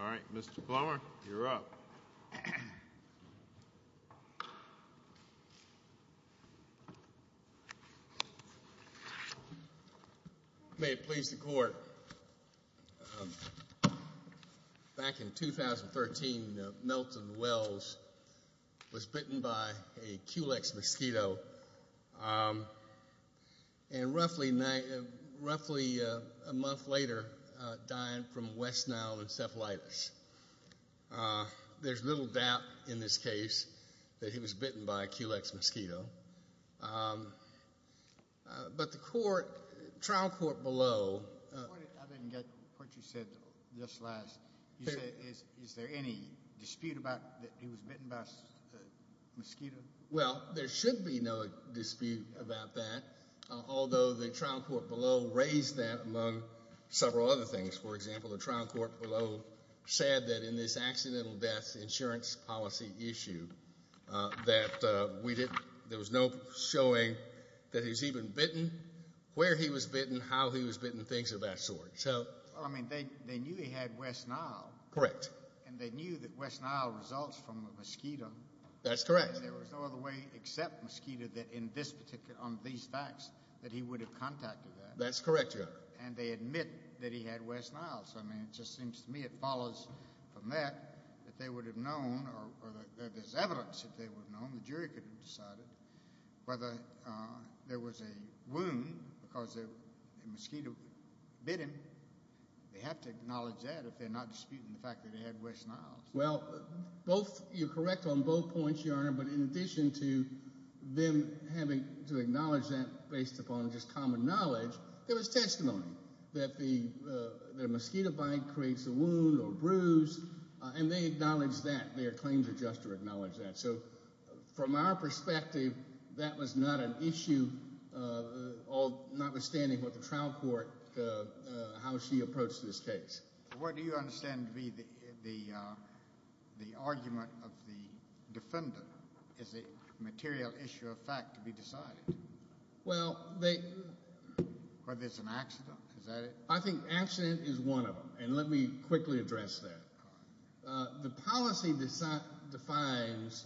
All right. Mr. Blomer, you're up. May it please the court, back in 2013, Milton Wells was bitten by a Culex mosquito, and roughly a month later, died from West Nile encephalitis. There's little doubt in this case that he was bitten by a Culex mosquito, but the trial court below... I didn't get what you said just last. Is there any dispute about that he was bitten by a mosquito? Well, there should be no dispute about that, although the trial court below raised that among several other things. For example, the trial court below said that in this accidental death insurance policy issue, that there was no showing that he was even bitten, where he was bitten, how he was bitten, things of that sort. So... Well, I mean, they knew he had West Nile. Correct. And they knew that West Nile results from a mosquito. That's correct. There was no other way except mosquito that in this particular, on these facts, that he would have contacted that. That's correct, Your Honor. And they admit that he had West Nile. So, I mean, it just seems to me it follows from that that they would have known, or there's evidence that they would have known, the jury could have decided, whether there was a wound because a mosquito bit him. They have to acknowledge that if they're not disputing the fact that he had West Nile. Well, both, you're correct on both points, Your Honor, but in addition to them having to acknowledge that based upon just common knowledge, there was testimony that the mosquito bite creates a wound or bruise, and they acknowledge that. Their claims are just to acknowledge that. So, from our perspective, that was not an issue, notwithstanding what the trial court, how she approached this case. What is the material issue of fact to be decided, whether it's an accident, is that it? I think accident is one of them, and let me quickly address that. The policy defines,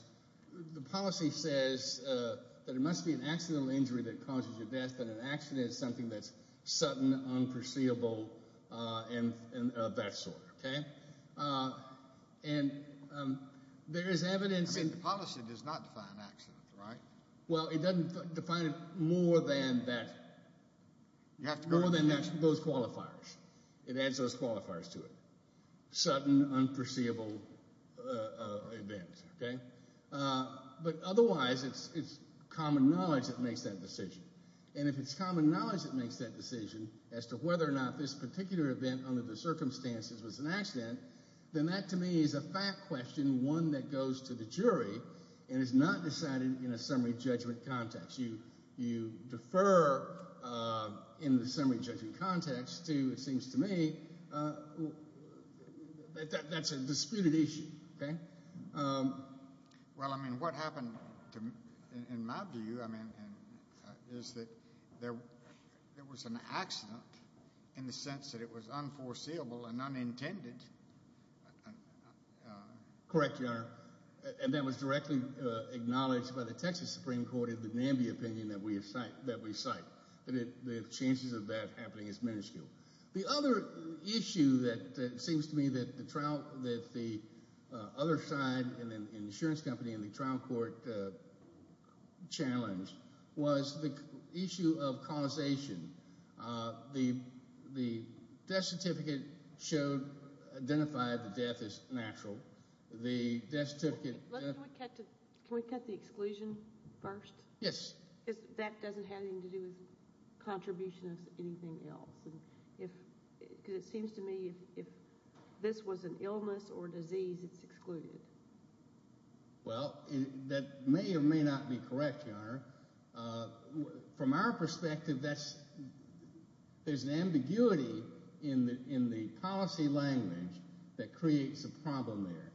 the policy says that it must be an accidental injury that causes your death, but an accident is something that's sudden, unperceivable, and of that sort, okay? And there is evidence in the policy that does not define an accident, right? Well, it doesn't define it more than that, more than those qualifiers. It adds those qualifiers to it, sudden, unperceivable event, okay? But otherwise, it's common knowledge that makes that decision, and if it's common knowledge that makes that decision as to whether or not this particular event under the circumstances was an accident, then that, to me, is a fact question, one that goes to the jury, and is not decided in a summary judgment context. You defer in the summary judgment context to, it seems to me, that's a disputed issue, okay? Well, I mean, what happened, in my view, I mean, is that there was an accident in the case that was not intended. Correct, Your Honor, and that was directly acknowledged by the Texas Supreme Court in the Nambia opinion that we cite, that the chances of that happening is minuscule. The other issue that, it seems to me, that the trial, that the other side, and the insurance company, and the trial court challenged was the issue of causation. The death certificate showed, identified the death as natural. The death certificate... Can we cut the exclusion first? Yes. Because that doesn't have anything to do with contribution as anything else. Because it seems to me, if this was an illness or disease, it's excluded. Well, that may or may not be correct, Your Honor. From our perspective, there's an ambiguity in the policy language that creates a problem there.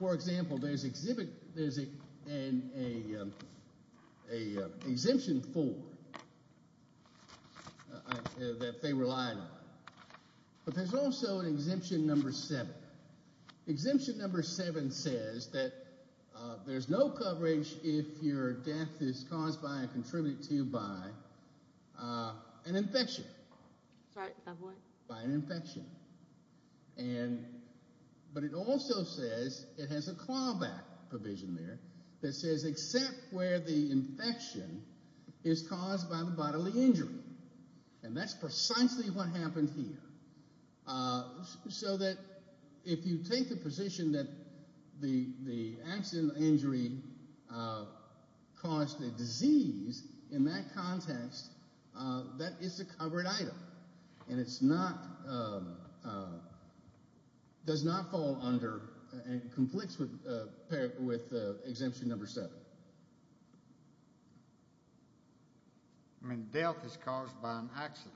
For example, there's an exemption four that they relied on, but there's also an exemption number seven. Exemption number seven says that there's no coverage if your death is caused by and contributed to by an infection. Sorry, go ahead. By an infection. And, but it also says, it has a clawback provision there that says except where the infection is caused by the bodily injury. And that's precisely what happened here. So that if you take the position that the accident or injury caused a disease, in that context, that is a covered item. And it's not, does not fall under, conflicts with exemption number seven. I mean, death is caused by an accident,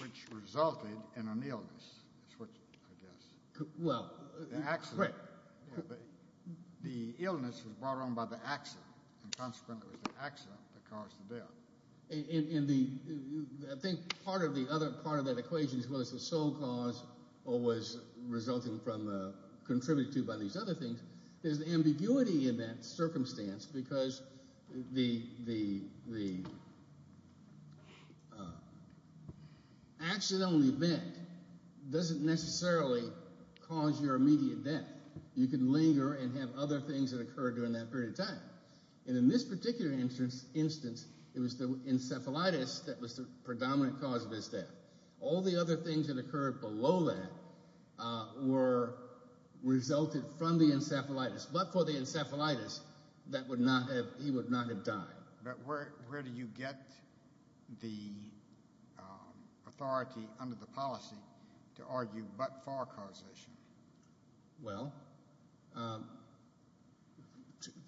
which resulted in an illness, is what I guess. Well. An accident. Right. The illness was brought on by the accident. And consequently, it was the accident that caused the death. And the, I think part of the other, part of that equation is whether it's the sole cause or was resulting from the, contributed to by these other things. There's ambiguity in that circumstance because the, the, the, accident only event doesn't necessarily cause your immediate death. You can linger and have other things that occur during that period of time. And in this particular instance, it was the encephalitis that was the predominant cause of his death. All the other things that occurred below that were resulted from the encephalitis. But for the encephalitis, that would not have, he would not have died. But where, where do you get the authority under the policy to argue but-for causation? Well,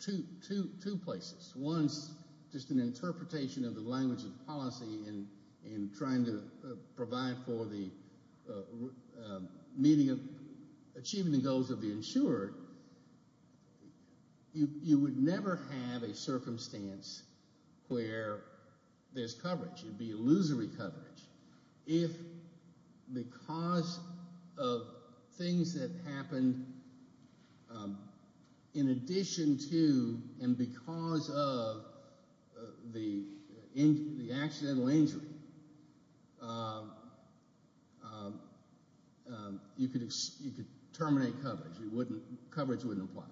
two, two, two places. One's just an interpretation of the language of policy in, in trying to provide for the meeting of, achieving the goals of the insured. You, you would never have a circumstance where there's coverage. It'd be illusory coverage. If, because of things that happened in addition to and because of the injury, the accidental injury, you could, you could terminate coverage. You wouldn't, coverage wouldn't apply.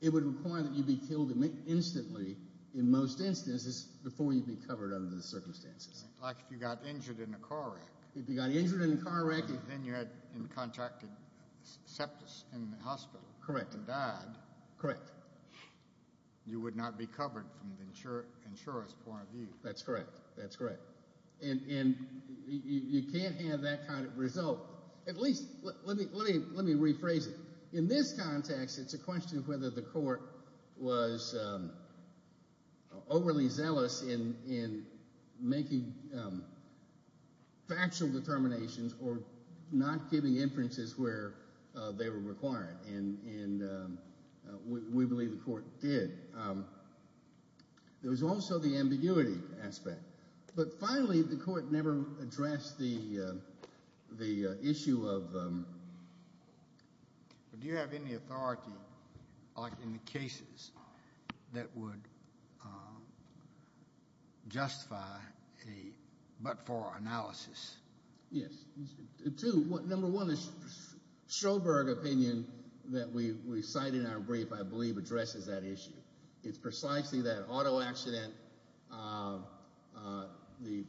It would require that you be killed instantly in most instances before you'd be covered under the circumstances. Like if you got injured in a car wreck. If you got injured in a car wreck and- Then you had contracted septis in the hospital. Correct. And died. Correct. You would not be covered from the insurer, insurer's point of view. That's correct. That's correct. And, and you, you can't have that kind of result. At least, let me, let me, let me rephrase it. In this context, it's a question of whether the court was overly zealous in, in making factual determinations or not giving inferences where they were required. And, and we, we believe the court did. There was also the ambiguity aspect. But finally, the court never addressed the, the issue of- But do you have any authority, like in the cases, that would justify a but-for analysis? Yes. Two, number one is Stroberg opinion that we, we cite in our brief, I believe, addresses that issue. It's precisely that auto accident, the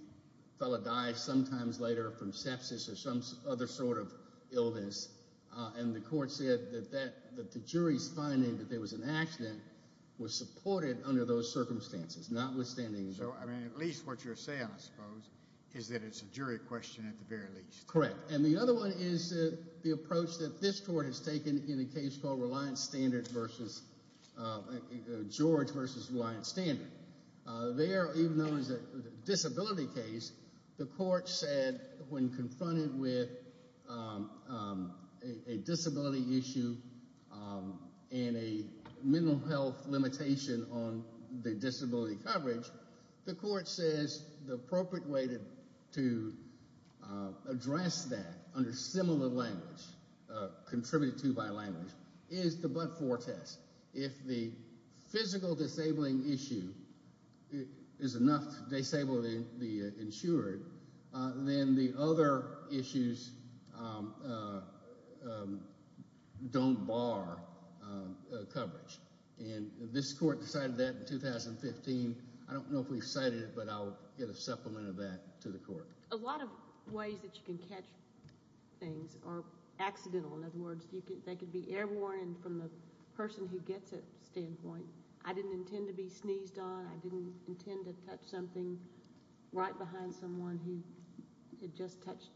fellow died sometimes later from sepsis or some other sort of illness, and the court said that that, that the jury's finding that there was an accident was supported under those circumstances, notwithstanding- So, I mean, at least what you're saying, I suppose, is that it's a jury question at the very least. Correct. And the other one is the approach that this court has taken in a case called Reliance Standard versus, George versus Reliance Standard. There, even though it was a disability case, the court said when confronted with a disability issue and a mental health limitation on the disability coverage, the court says the appropriate way to, to address that under similar language, contributed to by language, is the but-for test. If the physical disabling issue is enough to disable the, the insured, then the other issues don't bar coverage. And this court decided that in 2015. I don't know if we cited it, but I'll get a supplement of that to the court. A lot of ways that you can catch things are accidental. In other words, they could be airborne from the person who gets it standpoint. I didn't intend to be sneezed on. I didn't intend to touch something right behind someone who had just touched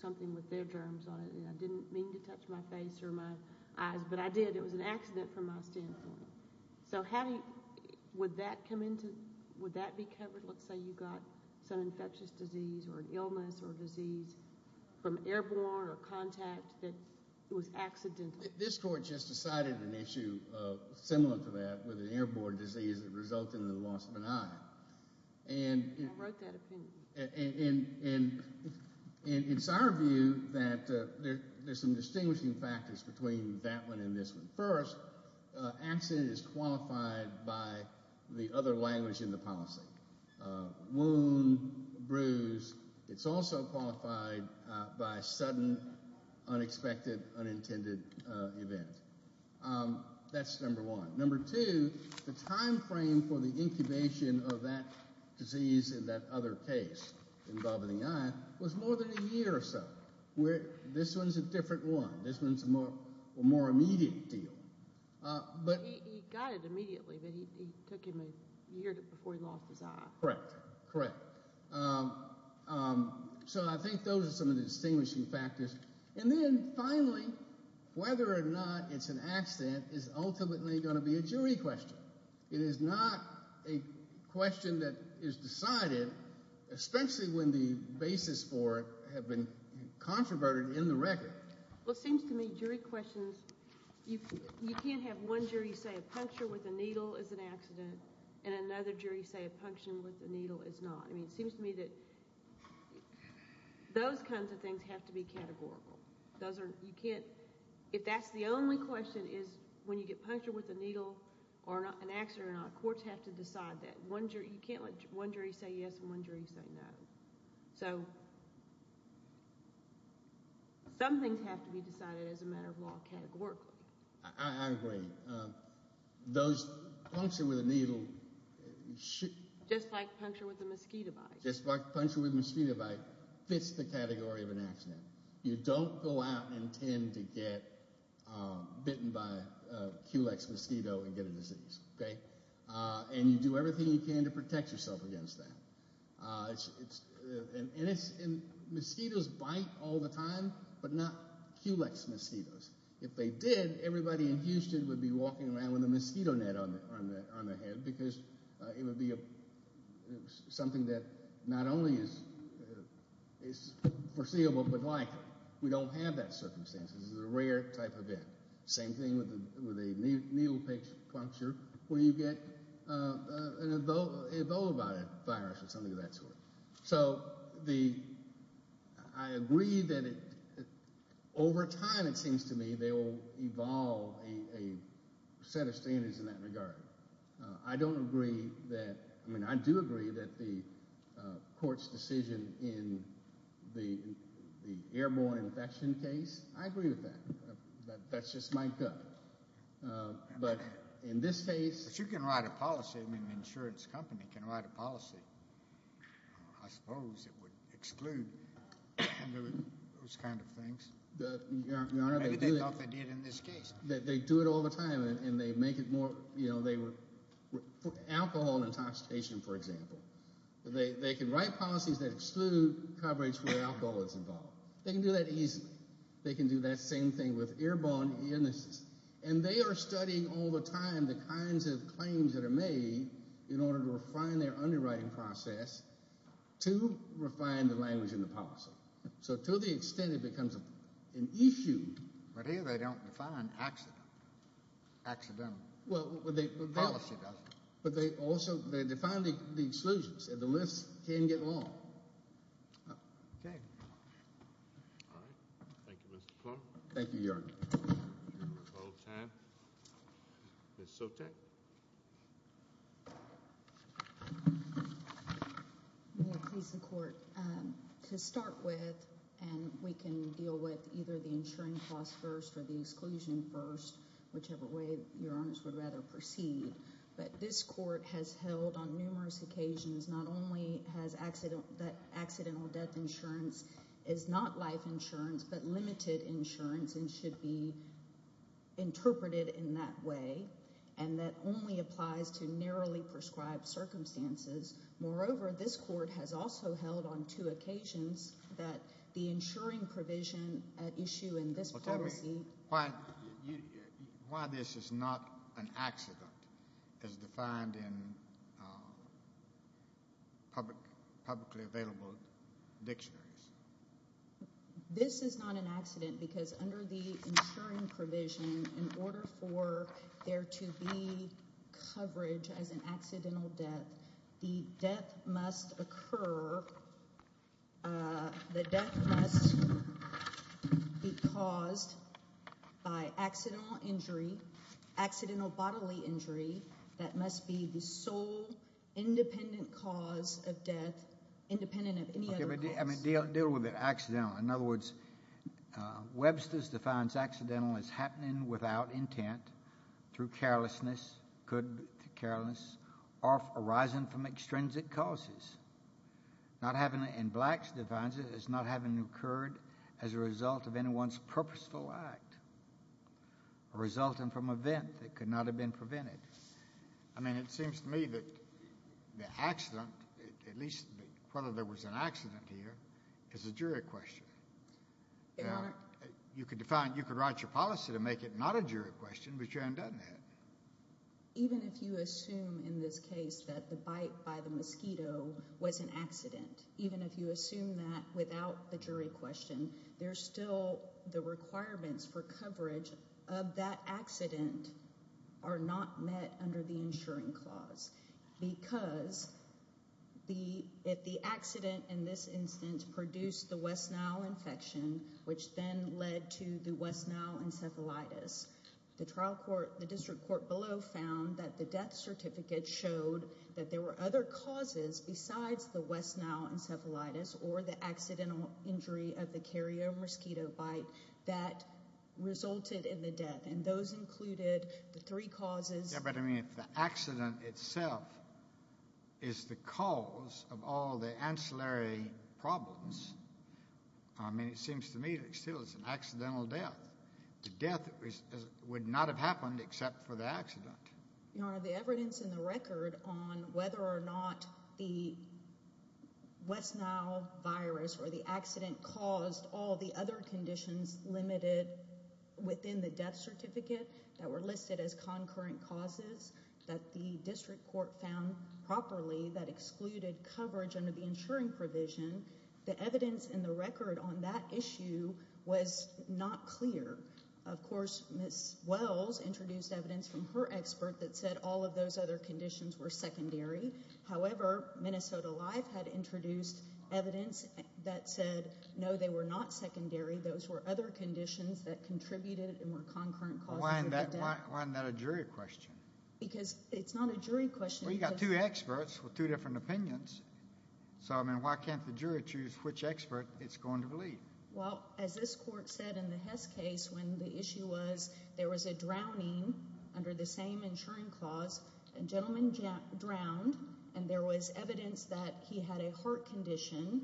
something with their germs on it. I didn't mean to touch my face or my eyes, but I did. It was an accident from my standpoint. So how do you, would that come into, would that be covered? Let's say you got some infectious disease or an illness or disease from airborne or contact that was accidental. This court just decided an issue similar to that with an airborne disease that resulted in the loss of an eye. And. I wrote that opinion. And, and, and, and it's our view that there, there's some distinguishing factors between that one and this one. First, accident is qualified by the other language in the policy. Wound, bruise. It's also qualified by sudden, unexpected, unintended event. That's number one. Number two, the timeframe for the incubation of that disease in that other case involving the eye was more than a year or so. This one's a different one. This one's a more, a more immediate deal. But. He got it immediately, but he took him a year before he lost his eye. Correct. Correct. So I think those are some of the distinguishing factors. And then finally, whether or not it's an accident is ultimately going to be a jury question. It is not a question that is decided, especially when the basis for it have been controverted in the record. Well, it seems to me jury questions, you can't have one jury say a puncture with a needle is an accident and another jury say a puncture with a needle is not. I mean, it seems to me that those kinds of things have to be categorical. Those are, you can't, if that's the only question is when you get punctured with a needle or an accident or not, courts have to decide that. One jury, you can't let one jury say yes and one jury say no. So some things have to be decided as a matter of law categorically. I agree. Those, puncture with a needle. Just like puncture with a mosquito bite. Just like puncture with a mosquito bite fits the category of an accident. You don't go out and tend to get bitten by a Culex mosquito and get a disease. Okay? And you do everything you can to protect yourself against that. And mosquitoes bite all the time, but not Culex mosquitoes. If they did, everybody in Houston would be walking around with a mosquito net on their head because it would be something that not only is foreseeable, but like, we don't have that circumstance. This is a rare type of event. Same thing with a needle puncture where you get an Ebola virus or something of that sort. So I agree that over time it seems to me they will evolve a set of standards in that regard. I don't agree that, I mean, I do agree that the court's decision in the airborne infection case, I agree with that. That's just my gut. But in this case. But you can write a policy. I mean, an insurance company can write a policy. I suppose it would exclude those kind of things. Your Honor, they do it. Maybe they thought they did in this case. They do it all the time, and they make it more, you know, alcohol and intoxication, for example. They can write policies that exclude coverage where alcohol is involved. They can do that easily. They can do that same thing with airborne illnesses. And they are studying all the time the kinds of claims that are made in order to refine their underwriting process to refine the language and the policy. So to the extent it becomes an issue. But here they don't define accidental. Well, they do. The policy does. But they also define the exclusions, and the list can get long. Okay. All right. Thank you, Mr. Clark. Thank you, Your Honor. We have a little time. Ms. Sotek. May it please the Court. To start with, and we can deal with either the insurance cost first or the exclusion first, whichever way Your Honor would rather proceed. But this Court has held on numerous occasions, not only that accidental death insurance is not life insurance but limited insurance and should be interpreted in that way, and that only applies to narrowly prescribed circumstances. Moreover, this Court has also held on two occasions that the insuring provision at issue in this policy. Why this is not an accident as defined in publicly available dictionaries? This is not an accident because under the insuring provision, in order for there to be coverage as an accidental death, the death must occur. The death must be caused by accidental injury, accidental bodily injury that must be the sole independent cause of death independent of any other cause. Deal with it. Accidental. In other words, Webster's defines accidental as happening without intent through carelessness, could be carelessness arising from extrinsic causes. Not having it in Blacks defines it as not having occurred as a result of anyone's purposeful act, resulting from an event that could not have been prevented. I mean, it seems to me that the accident, at least whether there was an accident here, is a jury question. Your Honor? Even if you assume in this case that the bite by the mosquito was an accident, even if you assume that without the jury question, there's still the requirements for coverage of that accident are not met under the insuring clause because if the accident in this instance produced the West Nile infection, which then led to the West Nile encephalitis, the district court below found that the death certificate showed that there were other causes besides the West Nile encephalitis or the accidental injury of the carrier mosquito bite that resulted in the death, and those included the three causes. Yeah, but I mean, if the accident itself is the cause of all the ancillary problems, I mean, it seems to me that still it's an accidental death. The death would not have happened except for the accident. Your Honor, the evidence in the record on whether or not the West Nile virus or the accident caused all the other conditions limited within the death certificate that were listed as concurrent causes that the district court found properly that excluded coverage under the insuring provision, the evidence in the record on that issue was not clear. Of course, Ms. Wells introduced evidence from her expert that said all of those other conditions were secondary. However, Minnesota Life had introduced evidence that said no, they were not secondary. Those were other conditions that contributed and were concurrent causes of the death. Why isn't that a jury question? Because it's not a jury question. Well, you've got two experts with two different opinions. So, I mean, why can't the jury choose which expert it's going to believe? Well, as this court said in the Hess case when the issue was there was a drowning under the same insuring clause, a gentleman drowned, and there was evidence that he had a heart condition,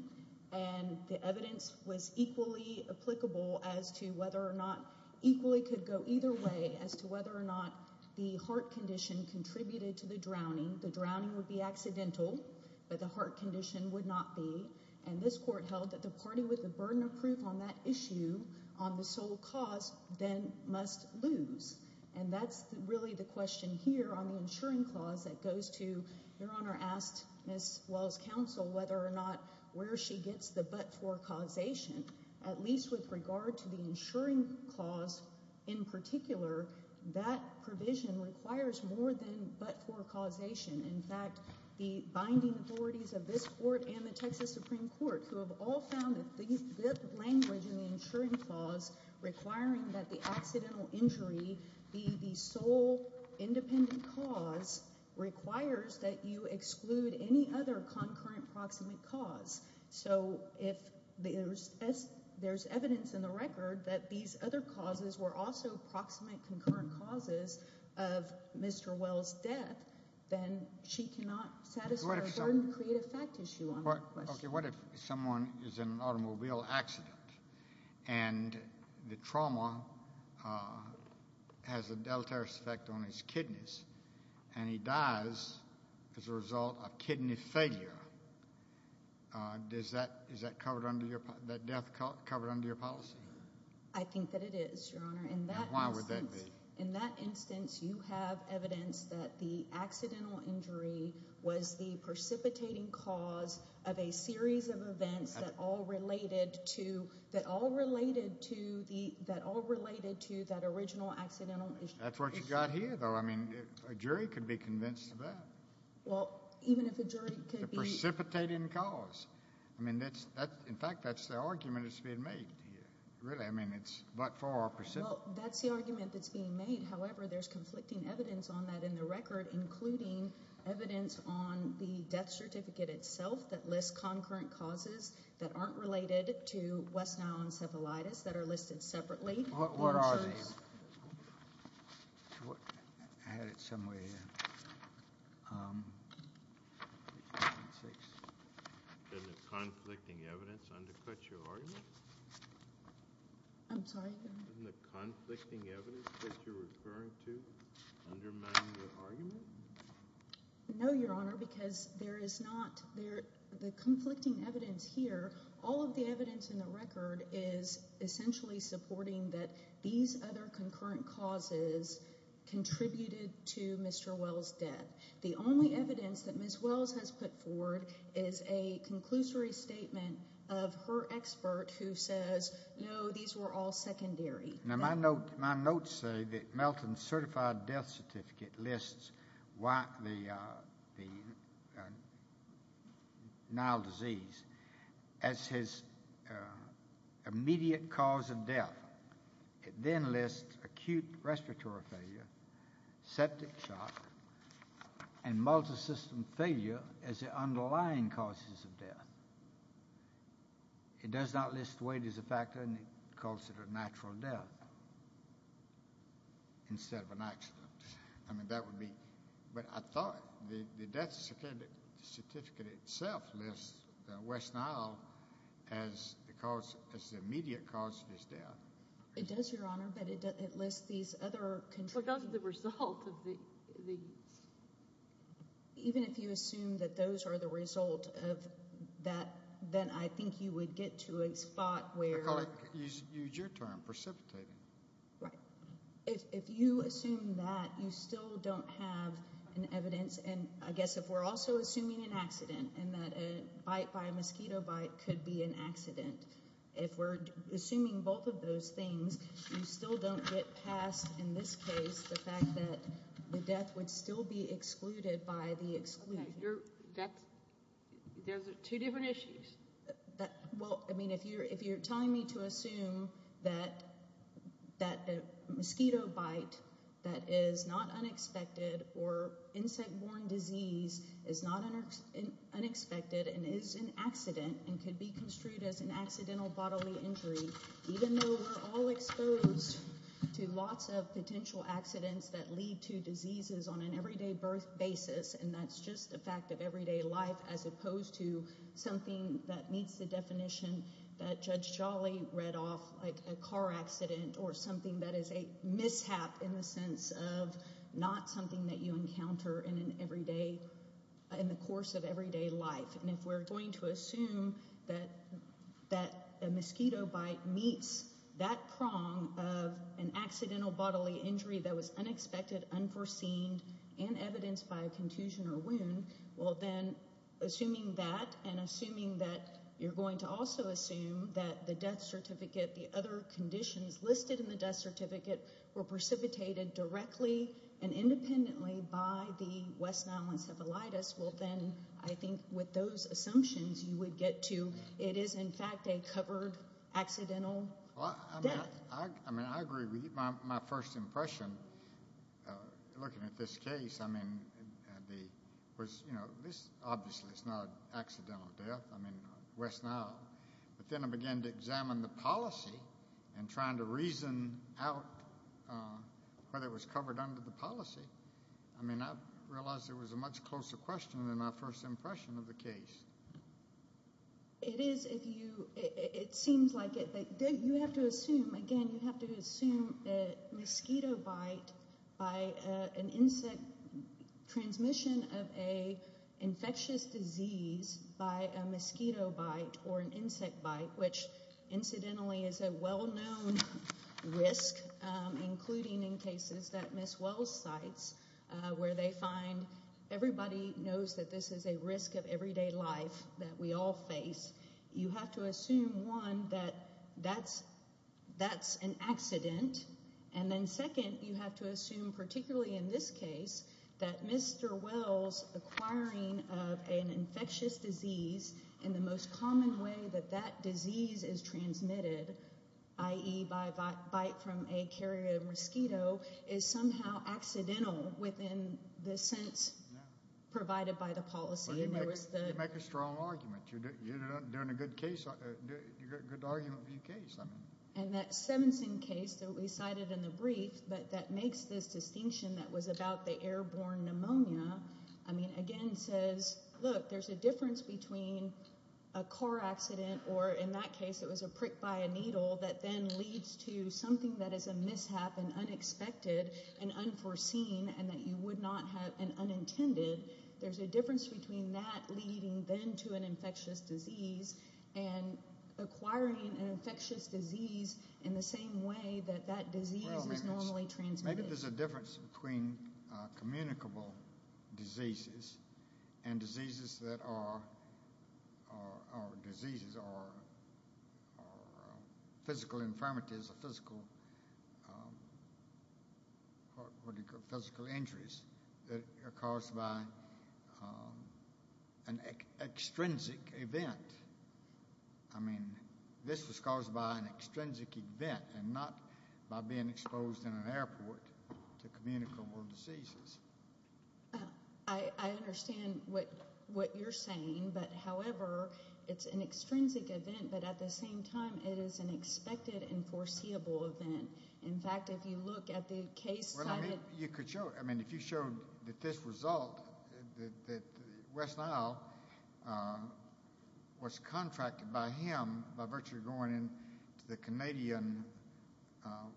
and the evidence was equally applicable as to whether or not equally could go either way as to whether or not the heart condition contributed to the drowning. The drowning would be accidental, but the heart condition would not be. And this court held that the party with the burden of proof on that issue, on the sole cause, then must lose. And that's really the question here on the insuring clause that goes to, Your Honor asked Ms. Wells' counsel whether or not where she gets the but-for causation. At least with regard to the insuring clause in particular, that provision requires more than but-for causation. In fact, the binding authorities of this court and the Texas Supreme Court, who have all found that the language in the insuring clause requiring that the accidental injury be the sole independent cause, requires that you exclude any other concurrent proximate cause. So if there's evidence in the record that these other causes were also proximate concurrent causes of Mr. Wells' death, then she cannot satisfy a burden to create a fact issue on that question. What if someone is in an automobile accident and the trauma has a deleterious effect on his kidneys and he dies as a result of kidney failure? Is that death covered under your policy? I think that it is, Your Honor. Why would that be? In that instance, you have evidence that the accidental injury was the precipitating cause of a series of events that all related to that original accidental injury. That's what you've got here, though. I mean, a jury could be convinced of that. Well, even if a jury could be— The precipitating cause. I mean, in fact, that's the argument that's being made here. Really, I mean, it's but-for or precip— Well, that's the argument that's being made. However, there's conflicting evidence on that in the record, including evidence on the death certificate itself that lists concurrent causes that aren't related to West Nile encephalitis that are listed separately. What are these? I had it somewhere here. Doesn't conflicting evidence undercut your argument? I'm sorry? Doesn't the conflicting evidence that you're referring to undermine your argument? No, Your Honor, because there is not—the conflicting evidence here, all of the evidence in the record is essentially supporting that these other concurrent causes contributed to Mr. Wells' death. The only evidence that Ms. Wells has put forward is a conclusory statement of her expert who says, no, these were all secondary. Now, my notes say that Melton's certified death certificate lists the Nile disease as his immediate cause of death. It then lists acute respiratory failure, septic shock, and multisystem failure as the underlying causes of death. It does not list weight as a factor and calls it a natural death instead of an accident. I mean, that would be—but I thought the death certificate itself lists West Nile as the immediate cause of his death. It does, Your Honor, but it lists these other— But that's the result of the— Then I think you would get to a spot where— McCulloch, use your term, precipitating. Right. If you assume that, you still don't have an evidence, and I guess if we're also assuming an accident and that a bite by a mosquito bite could be an accident, if we're assuming both of those things, you still don't get past, in this case, the fact that the death would still be excluded by the exclusion. Those are two different issues. Well, I mean, if you're telling me to assume that a mosquito bite that is not unexpected or insect-borne disease is not unexpected and is an accident and could be construed as an accidental bodily injury, even though we're all exposed to lots of potential accidents that lead to diseases on an everyday basis, and that's just a fact of everyday life, as opposed to something that meets the definition that Judge Jolly read off like a car accident or something that is a mishap in the sense of not something that you encounter in the course of everyday life. And if we're going to assume that a mosquito bite meets that prong of an accidental bodily injury that was unexpected, unforeseen, and evidenced by a contusion or wound, well, then assuming that and assuming that you're going to also assume that the death certificate, the other conditions listed in the death certificate were precipitated directly and independently by the West Nile encephalitis, well, then I think with those assumptions you would get to it is, in fact, a covered accidental death. I mean, I agree with you. My first impression looking at this case, I mean, was, you know, this obviously is not an accidental death, I mean, West Nile. But then I began to examine the policy and trying to reason out whether it was covered under the policy. I mean, I realized it was a much closer question than my first impression of the case. It is, if you, it seems like it. You have to assume, again, you have to assume that mosquito bite by an insect, transmission of an infectious disease by a mosquito bite or an insect bite, which incidentally is a well-known risk, including in cases that Ms. Wells cites, where they find everybody knows that this is a risk of everyday life that we all face. You have to assume, one, that that's an accident. And then second, you have to assume, particularly in this case, that Mr. Wells acquiring of an infectious disease in the most common way that that disease is transmitted, i.e. by a bite from a carrier mosquito, is somehow accidental within the sense provided by the policy. You make a strong argument. You're doing a good argument for your case. And that Simpson case that we cited in the brief that makes this distinction that was about the airborne pneumonia, I mean, again says, look, there's a difference between a car accident or, in that case, it was a prick by a needle that then leads to something that is a mishap and unexpected and unforeseen and that you would not have and unintended. There's a difference between that leading then to an infectious disease and acquiring an infectious disease in the same way that that disease is normally transmitted. Maybe there's a difference between communicable diseases and diseases that are physical infirmities or physical injuries that are caused by an extrinsic event. I mean, this was caused by an extrinsic event and not by being exposed in an airport to communicable diseases. I understand what what you're saying, but however, it's an extrinsic event. But at the same time, it is an expected and foreseeable event. In fact, if you look at the case, you could show. I mean, if you showed that this result, that West Nile was contracted by him by virtue of going into the Canadian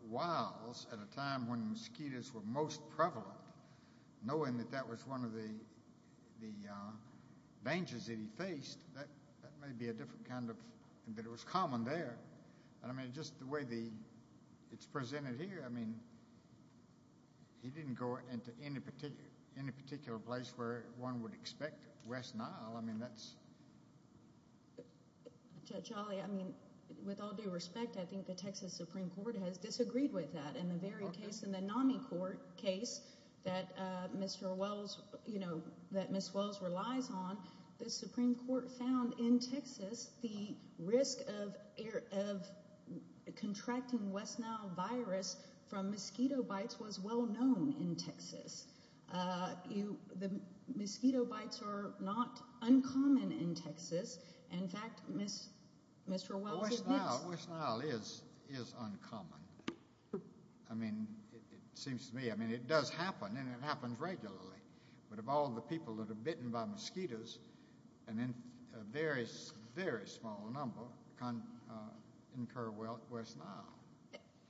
wilds at a time when mosquitoes were most prevalent, knowing that that was one of the dangers that he faced, that may be a different kind of, but it was common there. And I mean, just the way the it's presented here. I mean, he didn't go into any particular in a particular place where one would expect West Nile. I mean, that's Jolly. I mean, with all due respect, I think the Texas Supreme Court has disagreed with that. And the very case in the NAMI court case that Mr. Wells, you know, that Miss Wells relies on. The Supreme Court found in Texas the risk of contracting West Nile virus from mosquito bites was well known in Texas. You the mosquito bites are not uncommon in Texas. In fact, Miss Mr. Well, West Nile is is uncommon. I mean, it seems to me, I mean, it does happen and it happens regularly. But of all the people that are bitten by mosquitoes and then a very, very small number can occur. Well,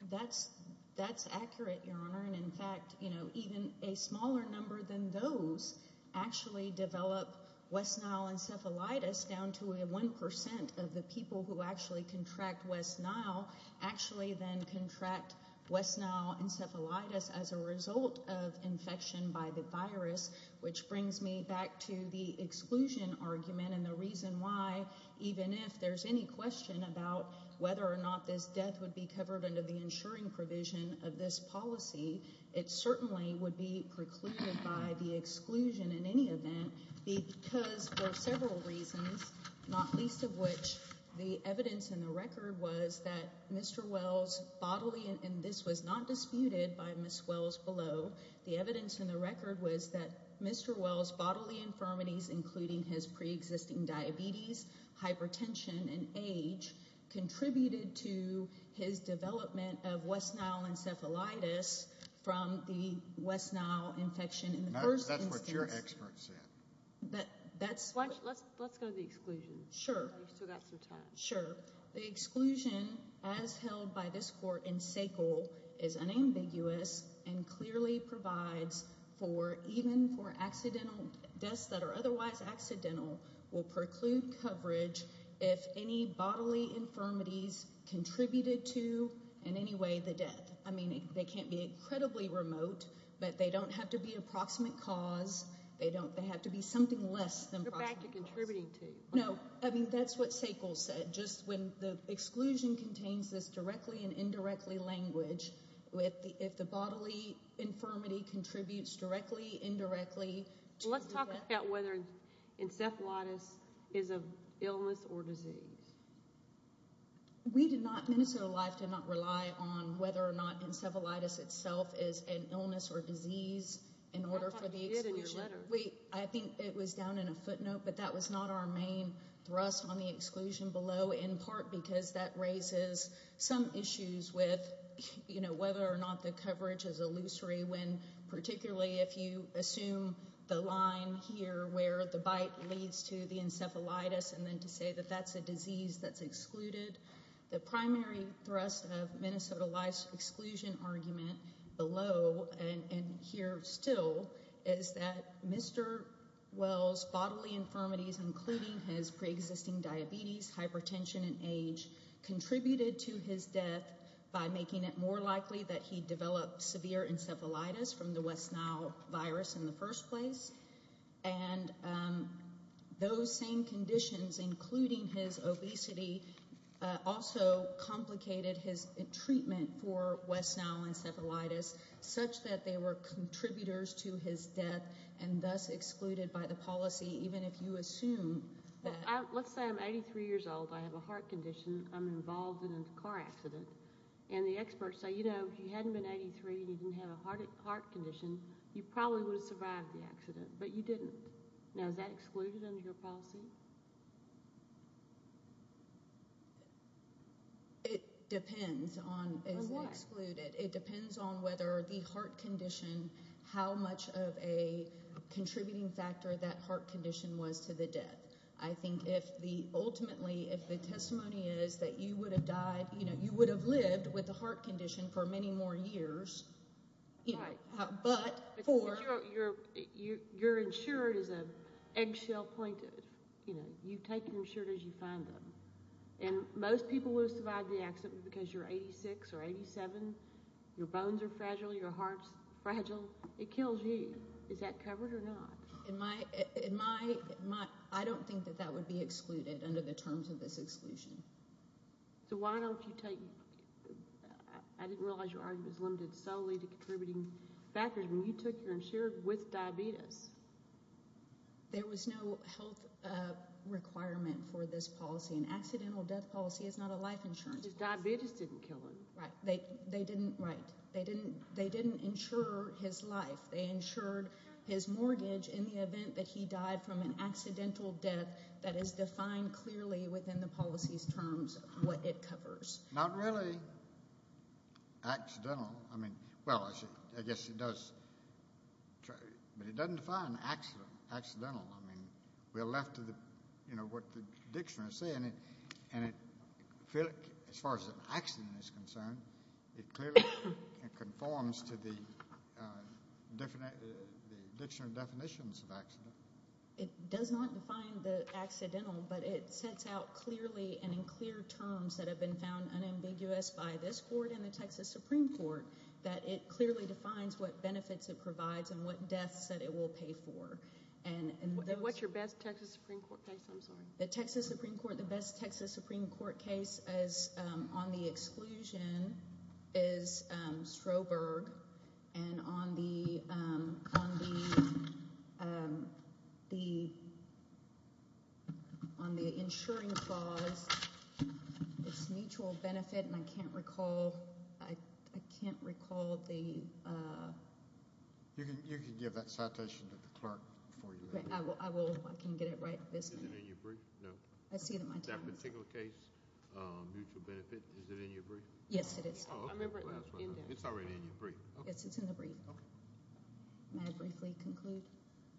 that's that's accurate, Your Honor. And in fact, you know, even a smaller number than those actually develop West Nile encephalitis down to one percent of the people who actually contract West Nile actually then contract West Nile encephalitis as a result of infection by the virus. Which brings me back to the exclusion argument and the reason why, even if there's any question about whether or not this death would be covered under the insuring provision of this policy. It certainly would be precluded by the exclusion in any event, because for several reasons, not least of which the evidence in the record was that Mr. Wells bodily and this was not disputed by Miss Wells below the evidence in the record was that Mr. diabetes, hypertension and age contributed to his development of West Nile encephalitis from the West Nile infection in the first instance. That's what your expert said. But that's why let's let's go to the exclusion. Sure. So that's your time. Sure. The exclusion as held by this court in SACL is unambiguous and clearly provides for even for accidental deaths that are otherwise accidental will preclude coverage. If any bodily infirmities contributed to in any way the death. I mean, they can't be incredibly remote, but they don't have to be approximate cause. They don't they have to be something less than back to contributing to. No, I mean, that's what SACL said. Just when the exclusion contains this directly and indirectly language with the if the bodily infirmity contributes directly, indirectly. Let's talk about whether encephalitis is a illness or disease. We did not. Minnesota Life did not rely on whether or not encephalitis itself is an illness or disease. I think it was down in a footnote, but that was not our main thrust on the exclusion below, in part because that raises some issues with, you know, whether or not the coverage is illusory when particularly if you assume the line here where the bite leads to the encephalitis and then to say that that's a disease that's excluded. The primary thrust of Minnesota Life's exclusion argument below and here still is that Mr. Wells bodily infirmities, including his preexisting diabetes, hypertension and age contributed to his death by making it more likely that he developed severe encephalitis from the West Nile virus in the first place. And those same conditions, including his obesity, also complicated his treatment for West Nile encephalitis such that they were contributors to his death and thus excluded by the policy, even if you assume. Let's say I'm 83 years old. I have a heart condition. I'm involved in a car accident and the experts say, you know, if you hadn't been 83 and you didn't have a heart condition, you probably would have survived the accident. But you didn't. Now, is that excluded under your policy? It depends on excluded. It depends on whether the heart condition, how much of a contributing factor that heart condition was to the death. I think if the ultimately if the testimony is that you would have died, you know, you would have lived with a heart condition for many more years. But you're you're you're insured is a eggshell pointed. You know, you take insurance. You find them. And most people will survive the accident because you're 86 or 87. Your bones are fragile. Your heart's fragile. It kills you. Is that covered or not? In my in my mind, I don't think that that would be excluded under the terms of this exclusion. So why don't you take? I didn't realize your argument is limited solely to contributing factors when you took your insurance with diabetes. There was no health requirement for this policy. An accidental death policy is not a life insurance. Diabetes didn't kill him, right? They they didn't. Right. They didn't. They didn't insure his life. They insured his mortgage in the event that he died from an accidental death. That is defined clearly within the policy's terms. What it covers. Not really. Accidental. I mean, well, I guess it does. But it doesn't define accident. Accidental. I mean, we're left to the, you know, what the dictionary is saying. And as far as the accident is concerned, it clearly conforms to the dictionary definitions of accident. It does not define the accidental, but it sets out clearly and in clear terms that have been found unambiguous by this court and the Texas Supreme Court that it clearly defines what benefits it provides and what deaths that it will pay for. What's your best Texas Supreme Court case? I'm sorry. The Texas Supreme Court. The best Texas Supreme Court case is on the exclusion is Stroberg. And on the. On the. The. On the insuring clause. Mutual benefit. And I can't recall. I can't recall the. You can give that citation to the clerk for you. I will. I can get it right. This isn't in your brief. No, I see that. My particular case. Mutual benefit. Is it in your brief? Yes, it is. I remember it. It's already in your brief. Yes, it's in the brief. May I briefly conclude?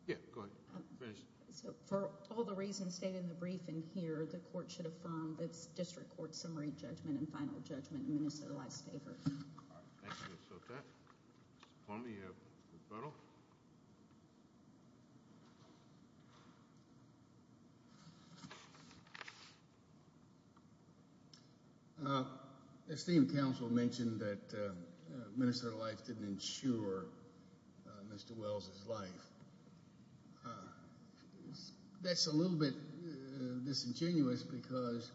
Yeah, go ahead. So for all the reasons stated in the brief in here, the court should affirm this district court summary judgment and final judgment in Minnesota life's favor. Thank you, Ms. Sotek. Mr. Palme, you have the panel. Thank you. Esteemed counsel mentioned that Minnesota life didn't ensure Mr. Wells's life. That's a little bit disingenuous because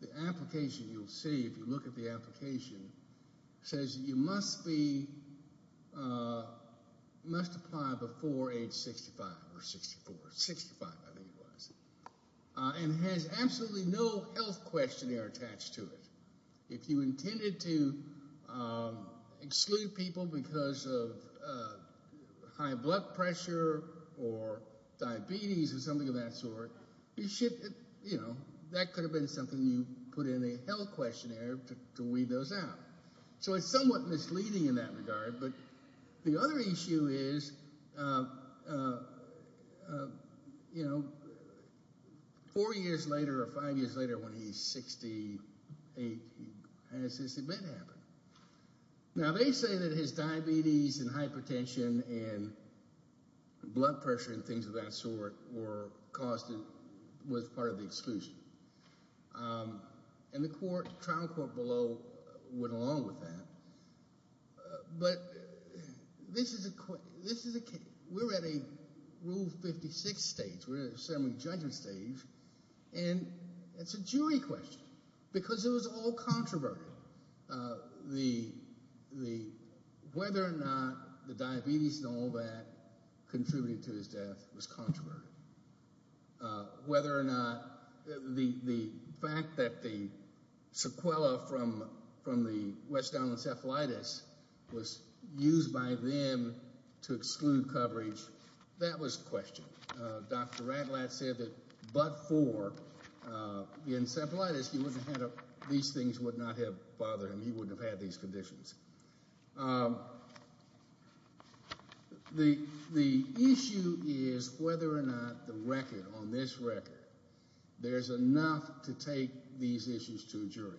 the application you'll see if you look at the application says you must be. Must apply before age 65 or 64, 65. I think it was and has absolutely no health questionnaire attached to it. If you intended to exclude people because of high blood pressure or diabetes or something of that sort, you should. You know, that could have been something you put in a health questionnaire to weed those out. So it's somewhat misleading in that regard. But the other issue is, you know, four years later or five years later when he's 68, has this event happened? Now, they say that his diabetes and hypertension and blood pressure and things of that sort were caused and was part of the exclusion. And the trial court below went along with that. But this is a, we're at a Rule 56 stage. We're at a semi-judgment stage. And it's a jury question because it was all controverted. The, whether or not the diabetes and all that contributed to his death was controverted. Whether or not the fact that the sequela from the West End encephalitis was used by them to exclude coverage, that was questioned. Dr. Ratlatt said that but for the encephalitis, these things would not have bothered him. He wouldn't have had these conditions. The issue is whether or not the record, on this record, there's enough to take these issues to a jury.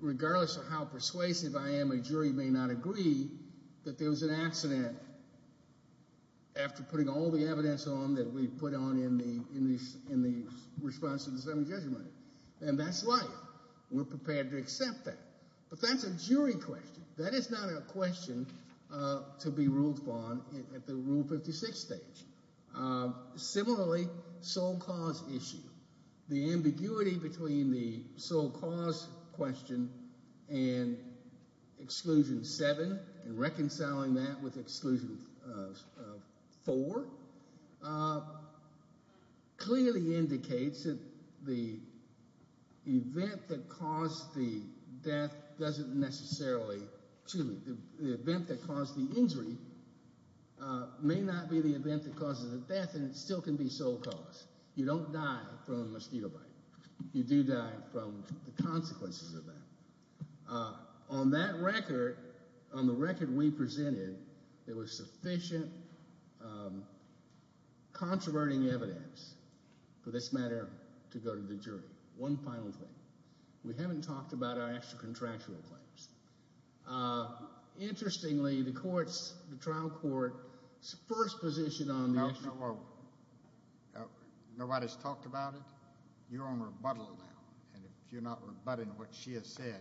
Regardless of how persuasive I am, a jury may not agree that there was an accident after putting all the evidence on that we put on in the response to the semi-judgment. And that's life. We're prepared to accept that. But that's a jury question. That is not a question to be ruled upon at the Rule 56 stage. Similarly, sole cause issue. The ambiguity between the sole cause question and Exclusion 7 and reconciling that with Exclusion 4 clearly indicates that the event that caused the death doesn't necessarily, excuse me, the event that caused the injury may not be the event that caused the death and it still can be sole cause. You don't die from a mosquito bite. You do die from the consequences of that. On that record, on the record we presented, there was sufficient controverting evidence for this matter to go to the jury. One final thing. We haven't talked about our extra-contractual claims. Interestingly, the trial court's first position on this. Nobody's talked about it? You're on rebuttal now. And if you're not rebutting what she has said,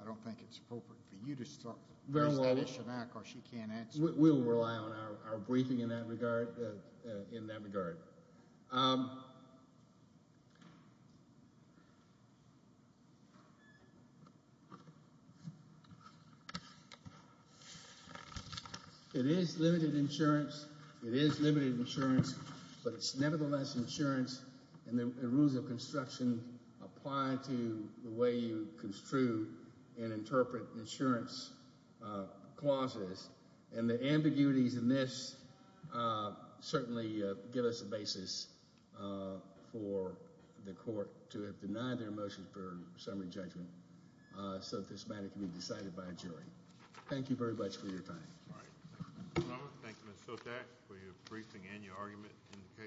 I don't think it's appropriate for you to start that issue now because she can't answer. We'll rely on our briefing in that regard. It is limited insurance. It is limited insurance. But it's nevertheless insurance and the rules of construction apply to the way you construe and interpret insurance clauses. And the ambiguities in this certainly give us a basis for the court to have denied their motion for summary judgment so that this matter can be decided by a jury. Thank you very much for your time. Thank you, Mr. Sotak, for your briefing and your argument in the case.